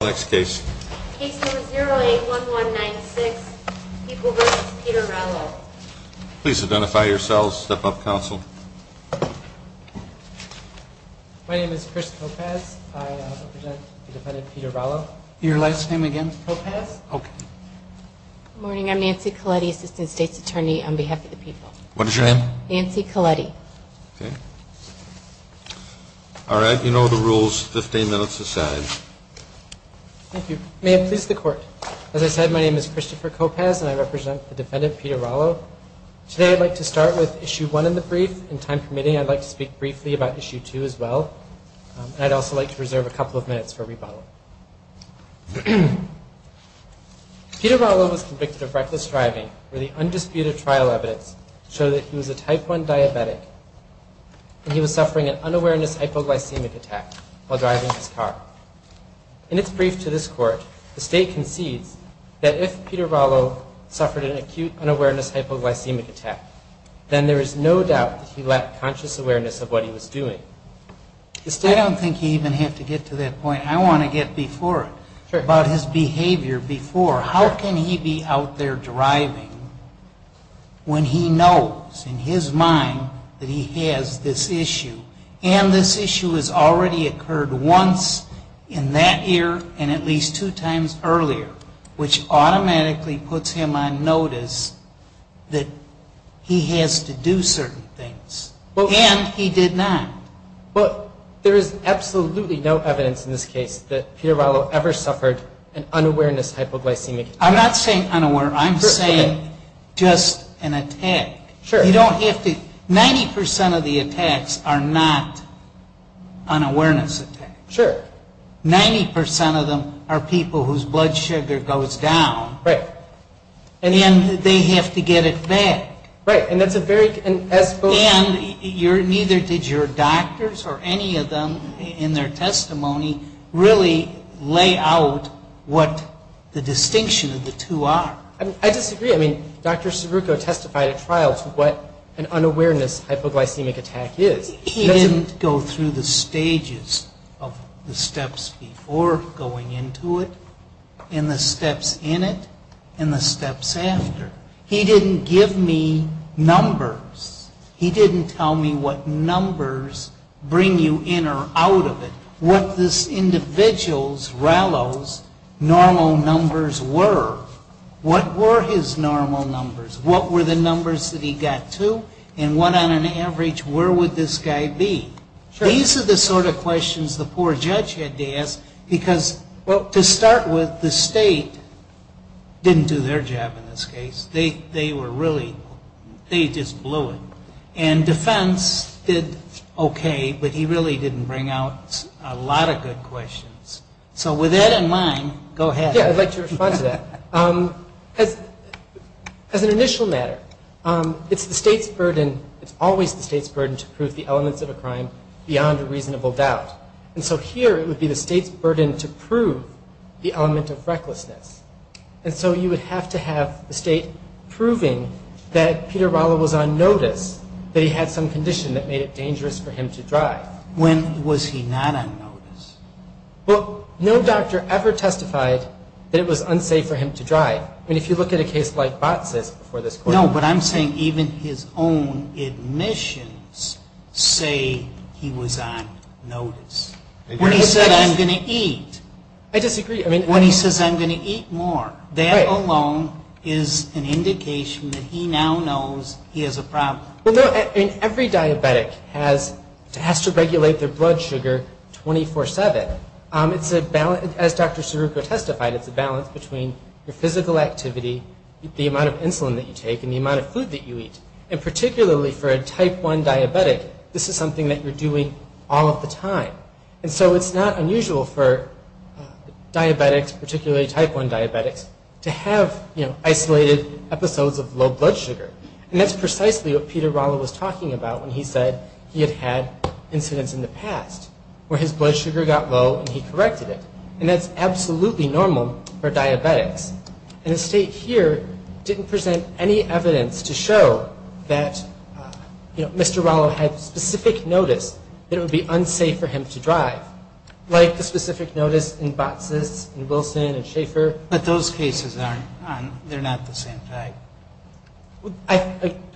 Next case. Case number 081196, People v. Peter Rallo. Please identify yourselves, step up, counsel. My name is Chris Kopasz. I represent the defendant Peter Rallo. Your last name again? Kopasz. Okay. Good morning, I'm Nancy Coletti, Assistant State's Attorney on behalf of the People. What is your name? Nancy Coletti. Okay. All right, you know the rules, 15 minutes aside. Thank you. May it please the court. As I said, my name is Christopher Kopasz, and I represent the defendant Peter Rallo. Today I'd like to start with Issue 1 in the brief, and time permitting, I'd like to speak briefly about Issue 2 as well. And I'd also like to reserve a couple of minutes for rebuttal. Peter Rallo was convicted of reckless driving, where the undisputed trial evidence showed that he was a type 1 diabetic, and he was suffering an unawareness hypoglycemic attack while driving his car. In its brief to this court, the State concedes that if Peter Rallo suffered an acute unawareness hypoglycemic attack, then there is no doubt that he lacked conscious awareness of what he was doing. I don't think you even have to get to that point. I want to get before it, about his behavior before. How can he be out there driving when he knows in his mind that he has this issue? And this issue has already occurred once in that year and at least two times earlier, which automatically puts him on notice that he has to do certain things. And he did not. Well, there is absolutely no evidence in this case that Peter Rallo ever suffered an unawareness hypoglycemic attack. I'm not saying unaware. I'm saying just an attack. Sure. You don't have to, 90% of the attacks are not unawareness attacks. Sure. 90% of them are people whose blood sugar goes down. Right. And then they have to get it back. Right, and that's a very, and as both And neither did your doctors or any of them in their testimony really lay out what the distinction of the two are. I disagree. I mean, Dr. Cerruco testified at trial to what an unawareness hypoglycemic attack is. He didn't go through the stages of the steps before going into it and the steps in it and the steps after. He didn't give me numbers. He didn't tell me what numbers bring you in or out of it, what this individual's, Rallo's, normal numbers were. What were his normal numbers? What were the numbers that he got to? And what on an average where would this guy be? These are the sort of questions the poor judge had to ask because to start with, the state didn't do their job in this case. They were really, they just blew it. And defense did okay, but he really didn't bring out a lot of good questions. So with that in mind, go ahead. Yeah, I'd like to respond to that. As an initial matter, it's the state's burden, it's always the state's burden to prove the elements of a crime beyond a reasonable doubt. And so here it would be the state's burden to prove the element of recklessness. And so you would have to have the state proving that Peter Rallo was on notice, that he had some condition that made it dangerous for him to drive. When was he not on notice? Well, no doctor ever testified that it was unsafe for him to drive. I mean, if you look at a case like Batz's before this court. No, but I'm saying even his own admissions say he was on notice. When he said, I'm going to eat. I disagree. When he says, I'm going to eat more. That alone is an indication that he now knows he has a problem. Well, no, every diabetic has to regulate their blood sugar 24-7. It's a balance, as Dr. Scirucco testified, it's a balance between your physical activity, the amount of insulin that you take, and the amount of food that you eat. And particularly for a type 1 diabetic, this is something that you're doing all of the time. And so it's not unusual for diabetics, particularly type 1 diabetics, to have isolated episodes of low blood sugar. And that's precisely what Peter Rallo was talking about when he said he had had incidents in the past where his blood sugar got low and he corrected it. And that's absolutely normal for diabetics. And the state here didn't present any evidence to show that, you know, Mr. Rallo had specific notice that it would be unsafe for him to drive. Like the specific notice in Batz's and Wilson and Schaefer. But those cases aren't, they're not the same type.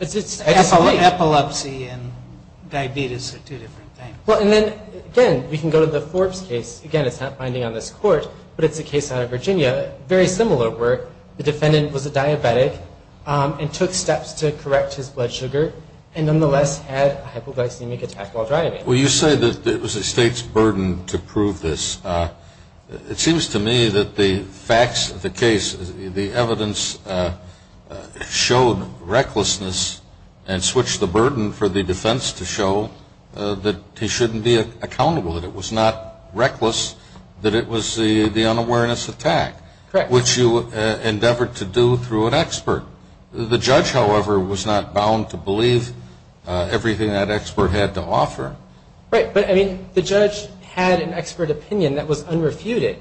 It's epilepsy. Epilepsy and diabetes are two different things. Well, and then, again, we can go to the Forbes case. Again, it's not binding on this court, but it's a case out of Virginia, very similar, where the defendant was a diabetic and took steps to correct his blood sugar and nonetheless had a hypoglycemic attack while driving. Well, you say that it was the state's burden to prove this. It seems to me that the facts of the case, the evidence showed recklessness and switched the burden for the defense to show that he shouldn't be accountable, that it was not reckless, that it was the unawareness attack, which you endeavored to do through an expert. The judge, however, was not bound to believe everything that expert had to offer. Right. But, I mean, the judge had an expert opinion that was unrefuted.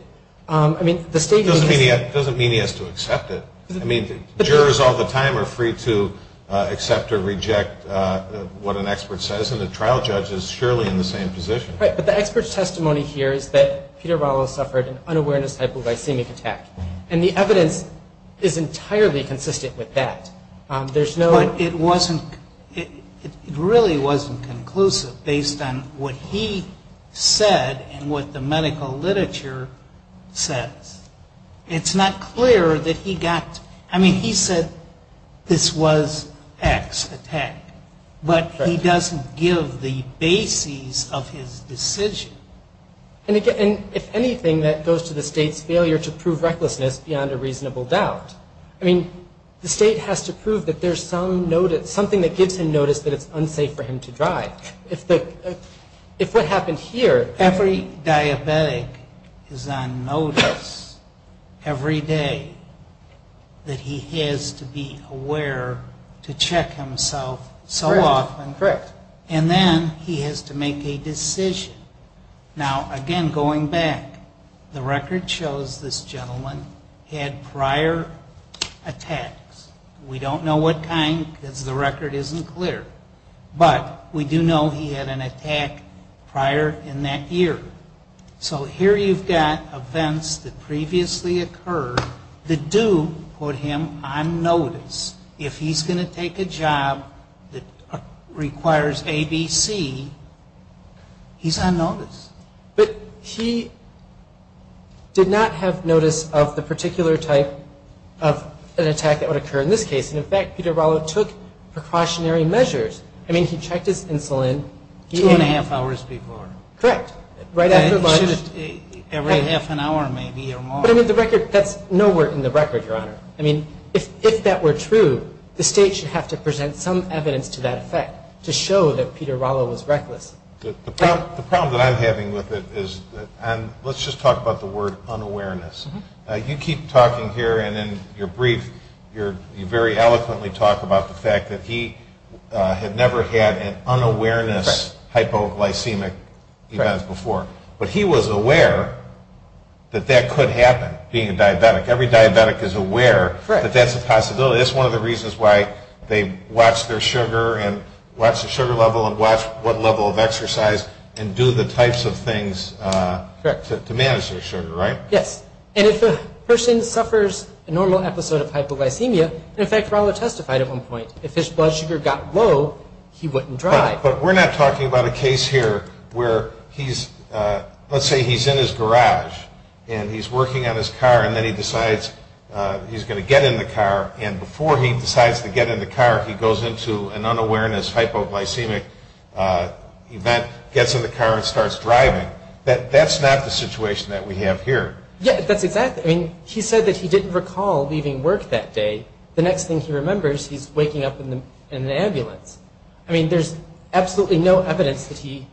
I mean, the state needs to- It doesn't mean he has to accept it. I mean, jurors all the time are free to accept or reject what an expert says, and the trial judge is surely in the same position. Right. But the expert's testimony here is that Peter Vallow suffered an unawareness hypoglycemic attack, and the evidence is entirely consistent with that. There's no- But it really wasn't conclusive based on what he said and what the medical literature says. It's not clear that he got-I mean, he said this was X attack, but he doesn't give the bases of his decision. And, if anything, that goes to the state's failure to prove recklessness beyond a reasonable doubt. I mean, the state has to prove that there's something that gives him notice that it's unsafe for him to drive. If what happened here- Every diabetic is on notice every day that he has to be aware to check himself so often. Correct. And then he has to make a decision. Now, again, going back, the record shows this gentleman had prior attacks. We don't know what kind because the record isn't clear. But we do know he had an attack prior in that year. So here you've got events that previously occurred that do put him on notice. If he's going to take a job that requires A, B, C, he's on notice. But he did not have notice of the particular type of an attack that would occur in this case. And, in fact, Peter Barlow took precautionary measures. I mean, he checked his insulin. Two and a half hours before. Correct. Right after lunch. Every half an hour maybe or more. But, I mean, the record-that's nowhere in the record, Your Honor. I mean, if that were true, the state should have to present some evidence to that effect to show that Peter Barlow was reckless. The problem that I'm having with it is-and let's just talk about the word unawareness. You keep talking here and in your brief you very eloquently talk about the fact that he had never had an unawareness hypoglycemic event before. But he was aware that that could happen, being a diabetic. Every diabetic is aware that that's a possibility. That's one of the reasons why they watch their sugar and watch the sugar level and watch what level of exercise and do the types of things to manage their sugar, right? Yes. And if a person suffers a normal episode of hypoglycemia, in fact, Barlow testified at one point, if his blood sugar got low, he wouldn't drive. But we're not talking about a case here where he's-let's say he's in his garage and he's working on his car and then he decides he's going to get in the car and before he decides to get in the car, he goes into an unawareness hypoglycemic event, gets in the car and starts driving. That's not the situation that we have here. Yeah, that's exactly-I mean, he said that he didn't recall leaving work that day. The next thing he remembers, he's waking up in an ambulance. I mean, there's absolutely no evidence that he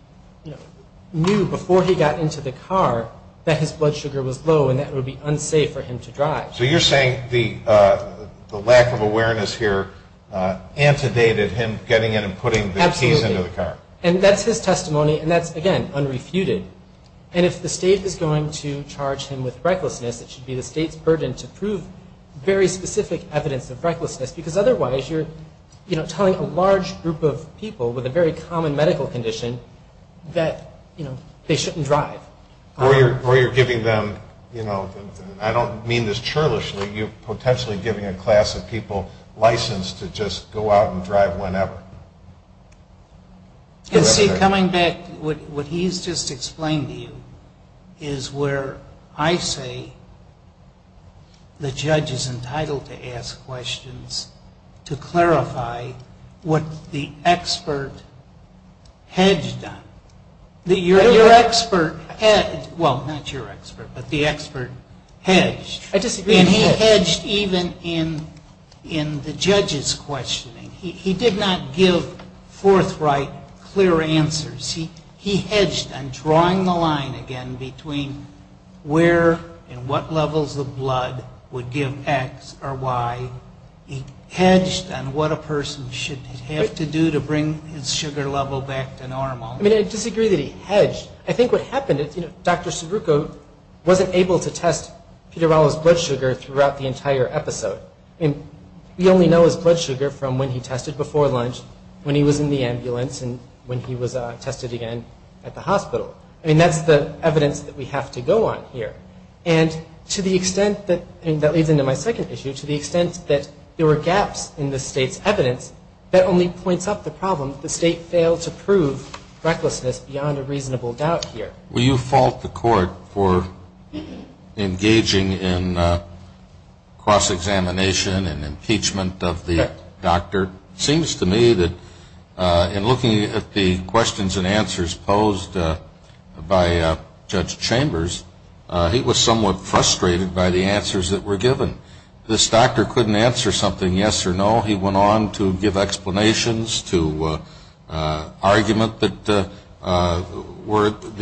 knew before he got into the car that his blood sugar was low and that it would be unsafe for him to drive. So you're saying the lack of awareness here antedated him getting in and putting the keys into the car. Absolutely. And that's his testimony, and that's, again, unrefuted. And if the state is going to charge him with recklessness, it should be the state's burden to prove very specific evidence of recklessness because otherwise you're telling a large group of people with a very common medical condition that they shouldn't drive. Or you're giving them-I don't mean this churlishly-you're potentially giving a class of people license to just go out and drive whenever. And see, coming back, what he's just explained to you is where I say the judge is entitled to ask questions to clarify what the expert hedged on. Your expert hedged-well, not your expert, but the expert hedged. I disagree. And he hedged even in the judge's questioning. He did not give forthright, clear answers. He hedged on drawing the line again between where and what levels of blood would give X or Y. He hedged on what a person should have to do to bring his sugar level back to normal. I mean, I disagree that he hedged. I think what happened is, you know, Dr. Subruko wasn't able to test Peter Ballo's blood sugar throughout the entire episode. I mean, we only know his blood sugar from when he tested before lunch, when he was in the ambulance, and when he was tested again at the hospital. I mean, that's the evidence that we have to go on here. And to the extent that-and that leads into my second issue-to the extent that there were gaps in the State's evidence, that only points up the problem that the State failed to prove recklessness beyond a reasonable doubt here. Will you fault the court for engaging in cross-examination and impeachment of the doctor? It seems to me that in looking at the questions and answers posed by Judge Chambers, he was somewhat frustrated by the answers that were given. This doctor couldn't answer something yes or no. He went on to give explanations to argument that the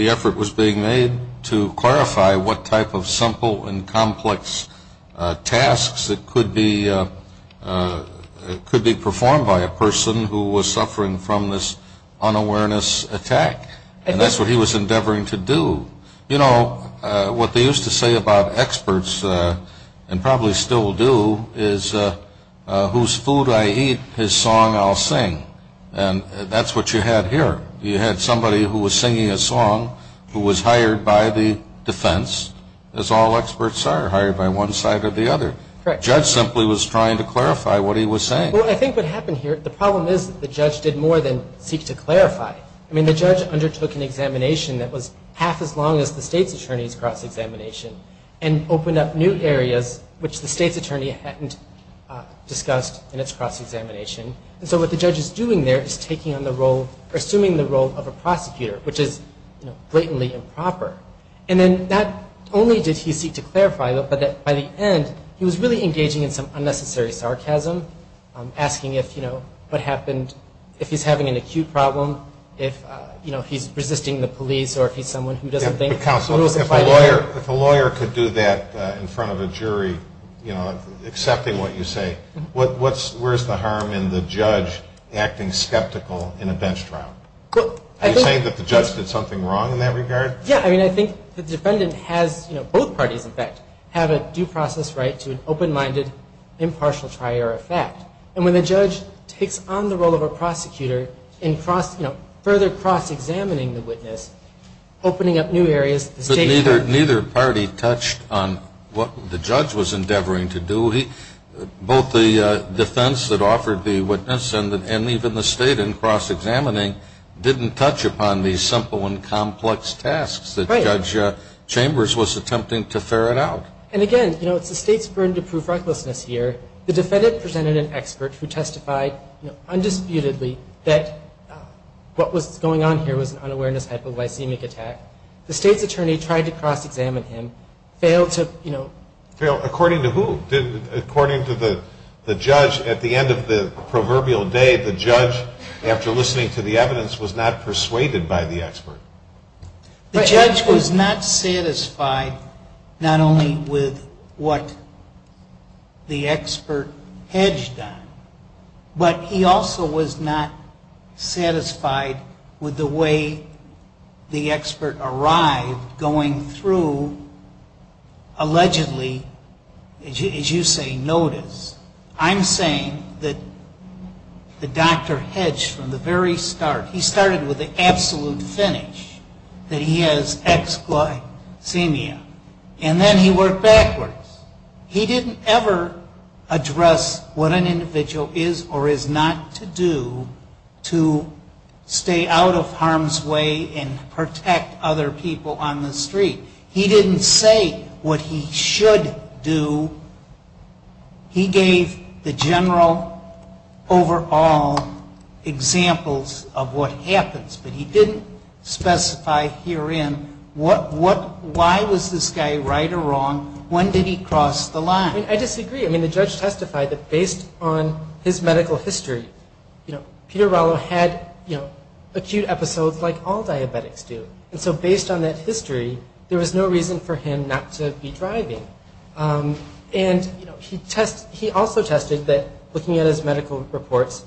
effort was being made to clarify what type of simple and complex tasks that could be performed by a person who was suffering from this unawareness attack. And that's what he was endeavoring to do. You know, what they used to say about experts, and probably still do, is whose food I eat, his song I'll sing. And that's what you had here. You had somebody who was singing a song who was hired by the defense, as all experts are, hired by one side or the other. Correct. The judge simply was trying to clarify what he was saying. Well, I think what happened here-the problem is that the judge did more than seek to clarify. I mean, the judge undertook an examination that was half as long as the state's attorney's cross-examination and opened up new areas which the state's attorney hadn't discussed in its cross-examination. And so what the judge is doing there is taking on the role or assuming the role of a prosecutor, which is blatantly improper. And then not only did he seek to clarify, but by the end, he was really engaging in some unnecessary sarcasm, asking if, you know, what happened, if he's having an acute problem, if, you know, he's resisting the police, or if he's someone who doesn't think- Counsel, if a lawyer could do that in front of a jury, you know, accepting what you say, where's the harm in the judge acting skeptical in a bench trial? Are you saying that the judge did something wrong in that regard? Yeah, I mean, I think the defendant has, you know, both parties, in fact, have a due process right to an open-minded, impartial trial or effect. And when the judge takes on the role of a prosecutor in, you know, further cross-examining the witness, opening up new areas, the state- But neither party touched on what the judge was endeavoring to do. Both the defense that offered the witness and even the state in cross-examining didn't touch upon these simple and complex tasks that Judge Chambers was attempting to ferret out. And again, you know, it's the state's burden to prove recklessness here. The defendant presented an expert who testified, you know, undisputedly that what was going on here was an unawareness-type of lysemic attack. The state's attorney tried to cross-examine him, failed to, you know- Failed according to who? According to the judge, at the end of the proverbial day, the judge, after listening to the evidence, was not persuaded by the expert. The judge was not satisfied not only with what the expert hedged on, but he also was not satisfied with the way the expert arrived, going through allegedly, as you say, notice. I'm saying that the doctor hedged from the very start. He started with the absolute finish, that he has X-glycemia. And then he worked backwards. He didn't ever address what an individual is or is not to do to stay out of harm's way and protect other people on the street. He didn't say what he should do. He gave the general overall examples of what happens, but he didn't specify herein why was this guy right or wrong, when did he cross the line. I disagree. I mean, the judge testified that based on his medical history, you know, acute episodes like all diabetics do. And so based on that history, there was no reason for him not to be driving. And, you know, he also tested that, looking at his medical reports,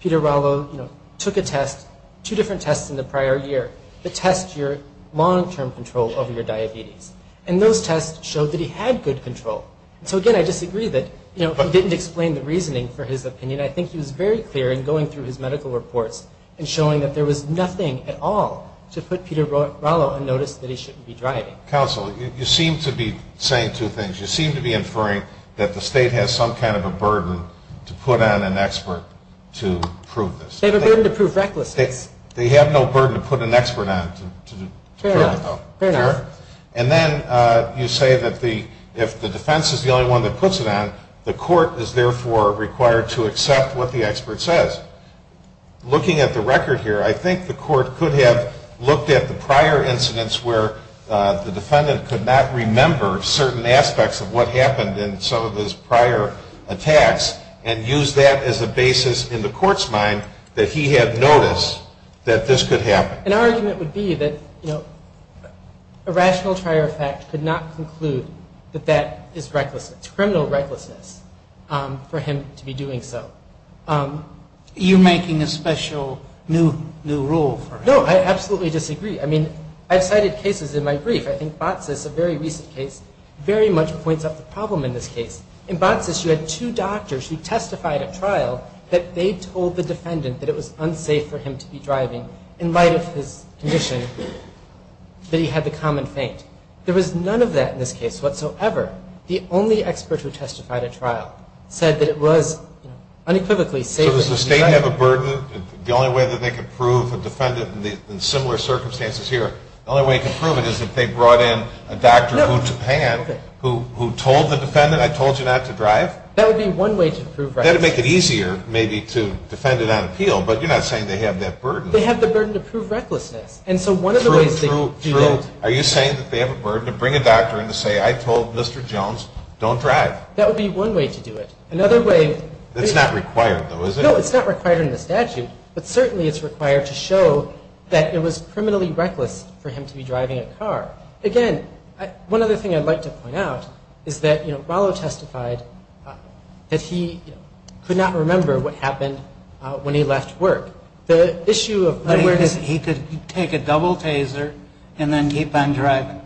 Peter Rollo took a test, two different tests in the prior year, to test your long-term control over your diabetes. And those tests showed that he had good control. And so, again, I disagree that he didn't explain the reasoning for his opinion. I mean, I think he was very clear in going through his medical reports and showing that there was nothing at all to put Peter Rollo on notice that he shouldn't be driving. Counsel, you seem to be saying two things. You seem to be inferring that the state has some kind of a burden to put on an expert to prove this. They have a burden to prove recklessness. They have no burden to put an expert on to prove it, though. Fair enough. Fair enough. And then you say that if the defense is the only one that puts it on, the court is, therefore, required to accept what the expert says. Looking at the record here, I think the court could have looked at the prior incidents where the defendant could not remember certain aspects of what happened in some of those prior attacks and used that as a basis in the court's mind that he had noticed that this could happen. And our argument would be that, you know, that is recklessness, criminal recklessness for him to be doing so. You're making a special new rule for him. No, I absolutely disagree. I mean, I've cited cases in my brief. I think Batsis, a very recent case, very much points out the problem in this case. In Batsis, you had two doctors who testified at trial that they told the defendant that it was unsafe for him to be driving in light of his condition, that he had the common faint. There was none of that in this case whatsoever. The only expert who testified at trial said that it was unequivocally safe for him to drive. So does the state have a burden? The only way that they could prove a defendant in similar circumstances here, the only way to prove it is if they brought in a doctor who told the defendant, I told you not to drive? That would be one way to prove recklessness. That would make it easier, maybe, to defend it on appeal. But you're not saying they have that burden. They have the burden to prove recklessness. True, true, true. Are you saying that they have a burden to bring a doctor in to say, I told Mr. Jones, don't drive? That would be one way to do it. It's not required, though, is it? No, it's not required in the statute. But certainly it's required to show that it was criminally reckless for him to be driving a car. Again, one other thing I'd like to point out is that Rollo testified that he could not remember what happened when he left work. He could take a double taser and then keep on driving.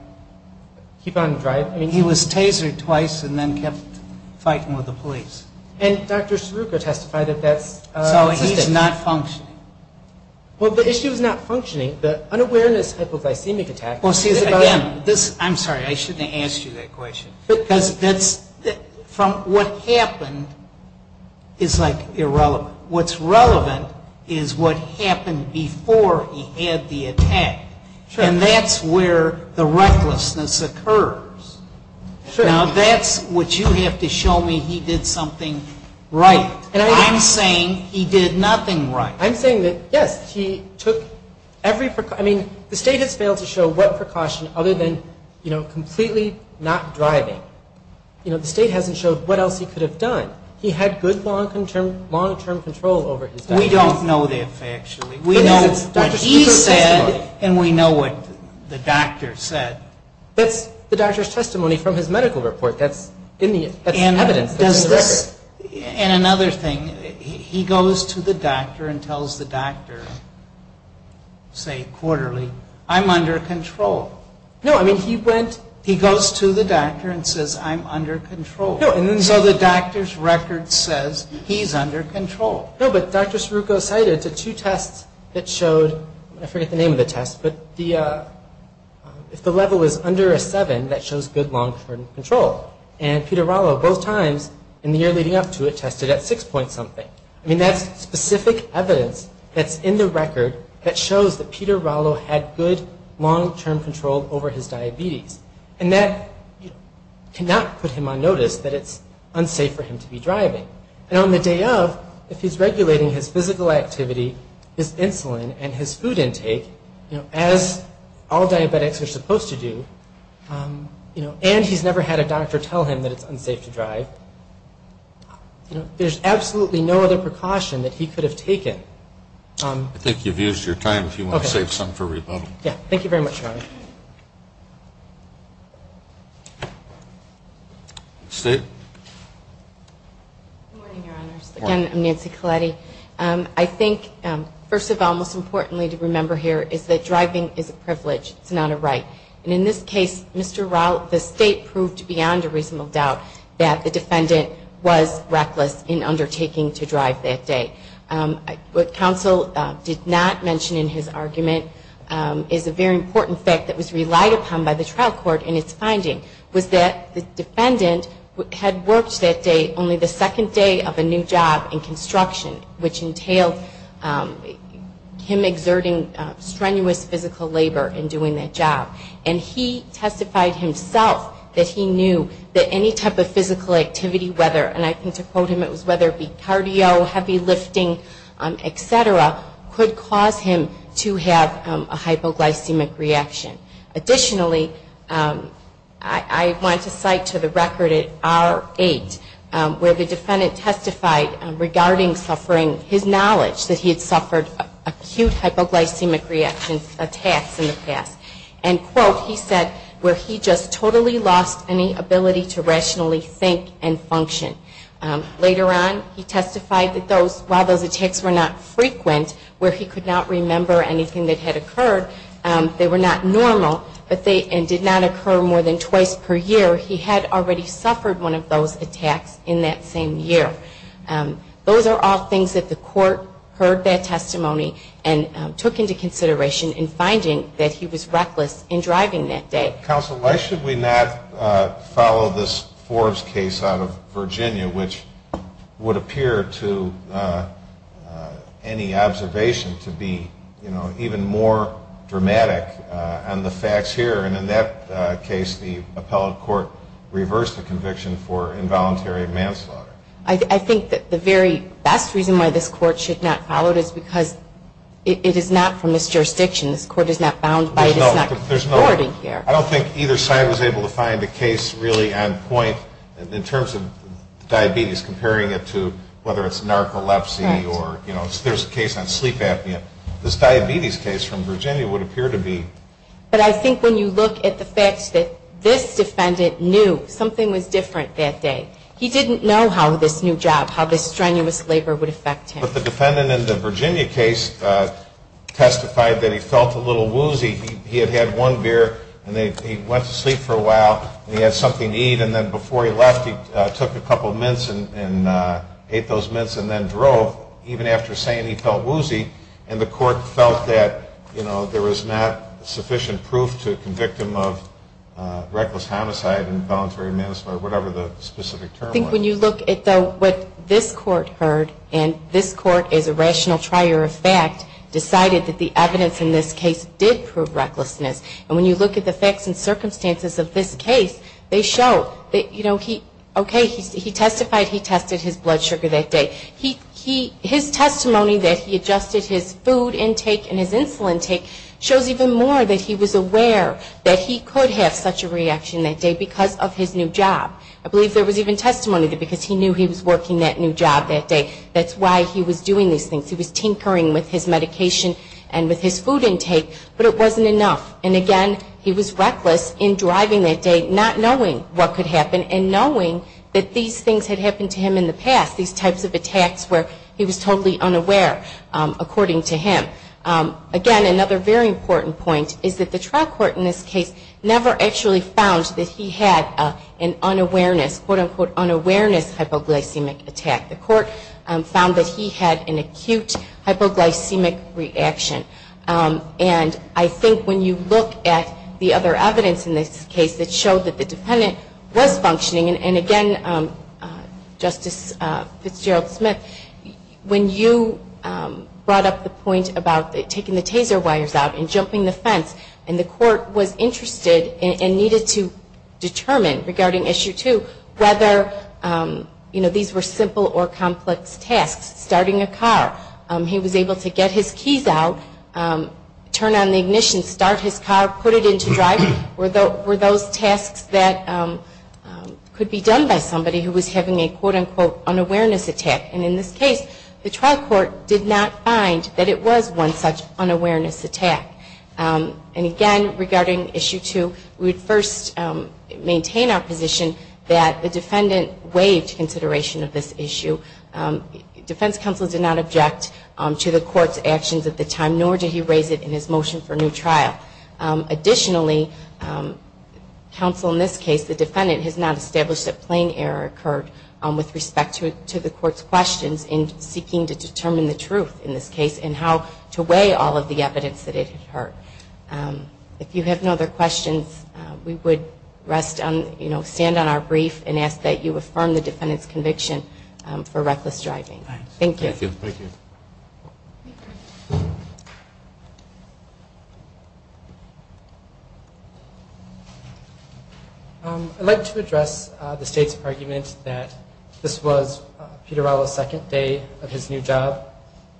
Keep on driving? He was tasered twice and then kept fighting with the police. And Dr. Saruka testified that that's the case. So he's not functioning. Well, the issue is not functioning. The unawareness hypoglycemic attack. Well, see, again, I'm sorry. I shouldn't have asked you that question. Because from what happened is, like, irrelevant. What's relevant is what happened before he had the attack. And that's where the recklessness occurs. Now, that's what you have to show me he did something right. I'm saying he did nothing right. I'm saying that, yes, he took every precaution. I mean, the state has failed to show what precaution other than, you know, completely not driving. You know, the state hasn't showed what else he could have done. But he had good long-term control over his doctor. We don't know that factually. He said, and we know what the doctor said. That's the doctor's testimony from his medical report. That's evidence. And another thing, he goes to the doctor and tells the doctor, say, quarterly, I'm under control. No, I mean, he goes to the doctor and says, I'm under control. So the doctor's record says he's under control. No, but Dr. Scirucco cited the two tests that showed, I forget the name of the test, but if the level is under a 7, that shows good long-term control. And Peter Rollo both times in the year leading up to it tested at 6 point something. I mean, that's specific evidence that's in the record that shows that Peter Rollo had good long-term control over his diabetes. And that cannot put him on notice that it's unsafe for him to be driving. And on the day of, if he's regulating his physical activity, his insulin, and his food intake, as all diabetics are supposed to do, and he's never had a doctor tell him that it's unsafe to drive, there's absolutely no other precaution that he could have taken. I think you've used your time, if you want to save some for rebuttal. Yeah, thank you very much, Your Honor. State. Good morning, Your Honors. Good morning. Again, I'm Nancy Colletti. I think, first of all, most importantly to remember here is that driving is a privilege. It's not a right. And in this case, Mr. Rallo, the State proved beyond a reasonable doubt that the defendant was reckless in undertaking to drive that day. What counsel did not mention in his argument is a very important fact that was relied upon by the trial court in its finding, was that the defendant had worked that day only the second day of a new job in construction, which entailed him exerting strenuous physical labor in doing that job. And he testified himself that he knew that any type of physical activity, whether, and I tend to quote him, it was whether it be cardio, heavy lifting, et cetera, could cause him to have a hypoglycemic reaction. Additionally, I want to cite to the record at R-8, where the defendant testified regarding suffering his knowledge that he had suffered acute hypoglycemic reaction attacks in the past. And quote, he said, where he just totally lost any ability to rationally think and function. Later on, he testified that while those attacks were not frequent, where he could not remember anything that had occurred, they were not normal, and did not occur more than twice per year, he had already suffered one of those attacks in that same year. Those are all things that the court heard that testimony and took into consideration in finding that he was reckless in driving that day. Counsel, why should we not follow this Forbes case out of Virginia, which would appear to any observation to be, you know, even more dramatic on the facts here. And in that case, the appellate court reversed the conviction for involuntary manslaughter. I think that the very best reason why this court should not follow it is because it is not from this jurisdiction. This court is not bound by it. I don't think either side was able to find a case really on point in terms of diabetes, comparing it to whether it's narcolepsy or, you know, there's a case on sleep apnea. This diabetes case from Virginia would appear to be. But I think when you look at the facts that this defendant knew something was different that day. He didn't know how this new job, how this strenuous labor would affect him. But the defendant in the Virginia case testified that he felt a little woozy. He had had one beer, and he went to sleep for a while, and he had something to eat. And then before he left, he took a couple of mints and ate those mints and then drove, even after saying he felt woozy. And the court felt that, you know, there was not sufficient proof to convict him of reckless homicide and voluntary manslaughter, whatever the specific term was. I think when you look at what this court heard, and this court, as a rational trier of fact, decided that the evidence in this case did prove recklessness. And when you look at the facts and circumstances of this case, they show that, you know, okay, he testified. He tested his blood sugar that day. His testimony that he adjusted his food intake and his insulin intake shows even more that he was aware that he could have such a reaction that day because of his new job. I believe there was even testimony that because he knew he was working that new job that day, that's why he was doing these things. He was tinkering with his medication and with his food intake, but it wasn't enough. And, again, he was reckless in driving that day, not knowing what could happen, and knowing that these things had happened to him in the past, these types of attacks where he was totally unaware, according to him. Again, another very important point is that the trial court in this case never actually found that he had an unawareness, quote, unquote, unawareness hypoglycemic attack. The court found that he had an acute hypoglycemic reaction. And I think when you look at the other evidence in this case that showed that the defendant was functioning, and, again, Justice Fitzgerald-Smith, when you brought up the point about taking the taser wires out and jumping the fence, and the court was interested and needed to determine regarding Issue 2 whether these were simple or complex tasks, starting a car. He was able to get his keys out, turn on the ignition, start his car, put it into driving. Were those tasks that could be done by somebody who was having a, quote, unquote, unawareness attack. And in this case, the trial court did not find that it was one such unawareness attack. And, again, regarding Issue 2, we would first maintain our position that the defendant waived consideration of this issue. Defense counsel did not object to the court's actions at the time, nor did he raise it in his motion for a new trial. Additionally, counsel in this case, the defendant has not established that plain error occurred with respect to the court's questions in seeking to determine the truth in this case and how to weigh all of the evidence that it had heard. If you have no other questions, we would rest on, you know, stand on our brief and ask that you affirm the defendant's conviction for reckless driving. Thank you. Thank you. I'd like to address the State's argument that this was Peter Rallo's second day of his new job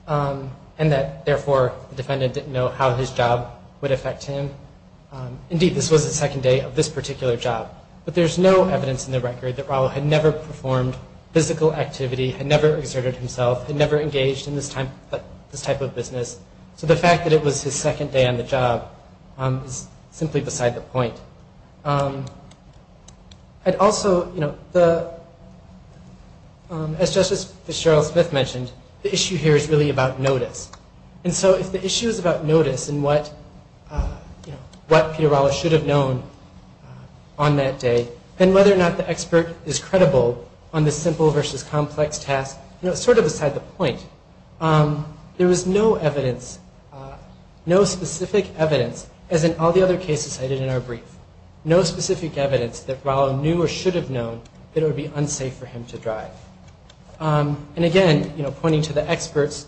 and that, therefore, the defendant didn't know how his job would affect him. Indeed, this was the second day of this particular job. But there's no evidence in the record that Rallo had never performed physical activity, had never exerted himself, had never engaged in this type of business. So the fact that it was his second day on the job is simply beside the point. I'd also, you know, as Justice Cheryl Smith mentioned, the issue here is really about notice. And so if the issue is about notice and what Peter Rallo should have known on that day, then whether or not the expert is credible on this simple versus complex task, you know, is sort of beside the point. There was no evidence, no specific evidence, as in all the other cases cited in our brief, no specific evidence that Rallo knew or should have known that it would be unsafe for him to drive. And, again, you know, pointing to the expert's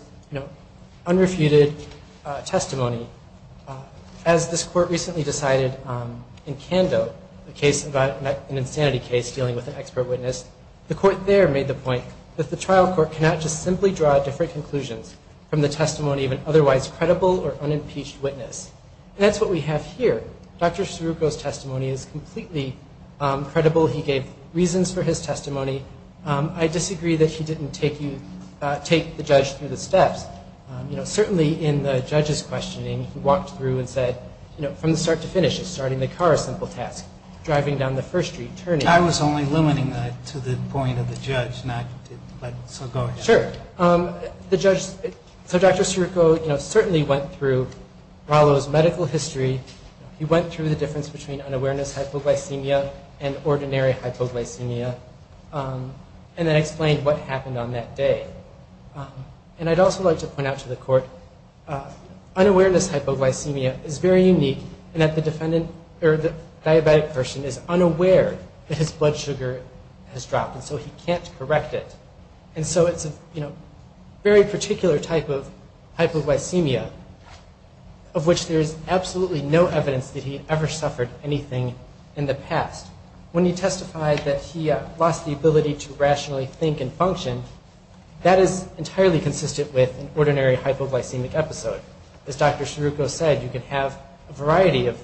unrefuted testimony, as this court recently decided in Kando, a case about an insanity case dealing with an expert witness, the court there made the point that the trial court cannot just simply draw different conclusions from the testimony of an otherwise credible or unimpeached witness. And that's what we have here. Dr. Scirucco's testimony is completely credible. He gave reasons for his testimony. I disagree that he didn't take the judge through the steps. You know, certainly in the judge's questioning, he walked through and said, you know, from start to finish, starting the car is a simple task. Driving down the first street, turning. I was only limiting that to the point of the judge, not so going after. Sure. So Dr. Scirucco, you know, certainly went through Rallo's medical history. He went through the difference between unawareness hypoglycemia and ordinary hypoglycemia and then explained what happened on that day. And I'd also like to point out to the court, unawareness hypoglycemia is very unique in that the defendant or the diabetic person is unaware that his blood sugar has dropped and so he can't correct it. And so it's a very particular type of hypoglycemia of which there is absolutely no evidence that he ever suffered anything in the past. When he testified that he lost the ability to rationally think and function, that is entirely consistent with an ordinary hypoglycemic episode. As Dr. Scirucco said, you can have a variety of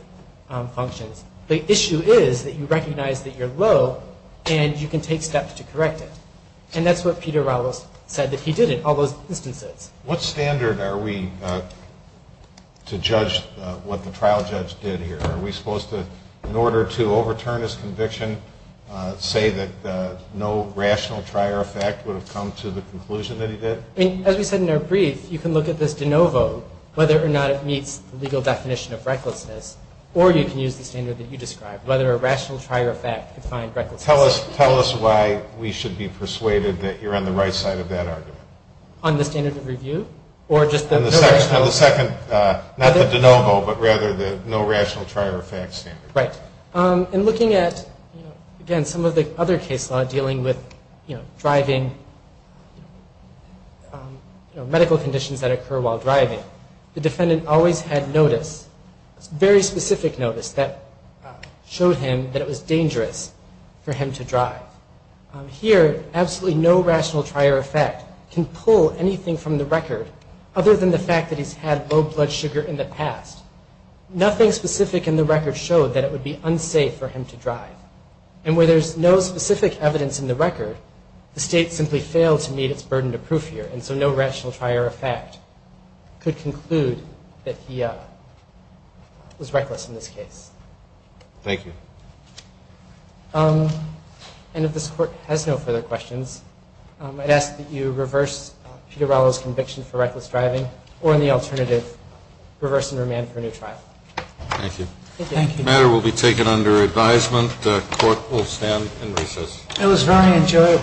functions. The issue is that you recognize that you're low and you can take steps to correct it. And that's what Peter Rallo said that he did in all those instances. What standard are we to judge what the trial judge did here? Are we supposed to, in order to overturn his conviction, say that no rational trier effect would have come to the conclusion that he did? As we said in our brief, you can look at this de novo, whether or not it meets the legal definition of recklessness, or you can use the standard that you described, whether a rational trier effect could find recklessness. Tell us why we should be persuaded that you're on the right side of that argument. On the standard of review? On the second, not the de novo, but rather the no rational trier effect standard. Right. And looking at, again, some of the other case law dealing with driving, medical conditions that occur while driving, the defendant always had notice, very specific notice, Here, absolutely no rational trier effect can pull anything from the record other than the fact that he's had low blood sugar in the past. Nothing specific in the record showed that it would be unsafe for him to drive. And where there's no specific evidence in the record, the state simply failed to meet its burden of proof here, and so no rational trier effect could conclude that he was reckless in this case. Thank you. And if this Court has no further questions, I'd ask that you reverse Pico-Rallo's conviction for reckless driving, or in the alternative, reverse and remand for a new trial. Thank you. Thank you. The matter will be taken under advisement. The Court will stand and recess. It was very enjoyable.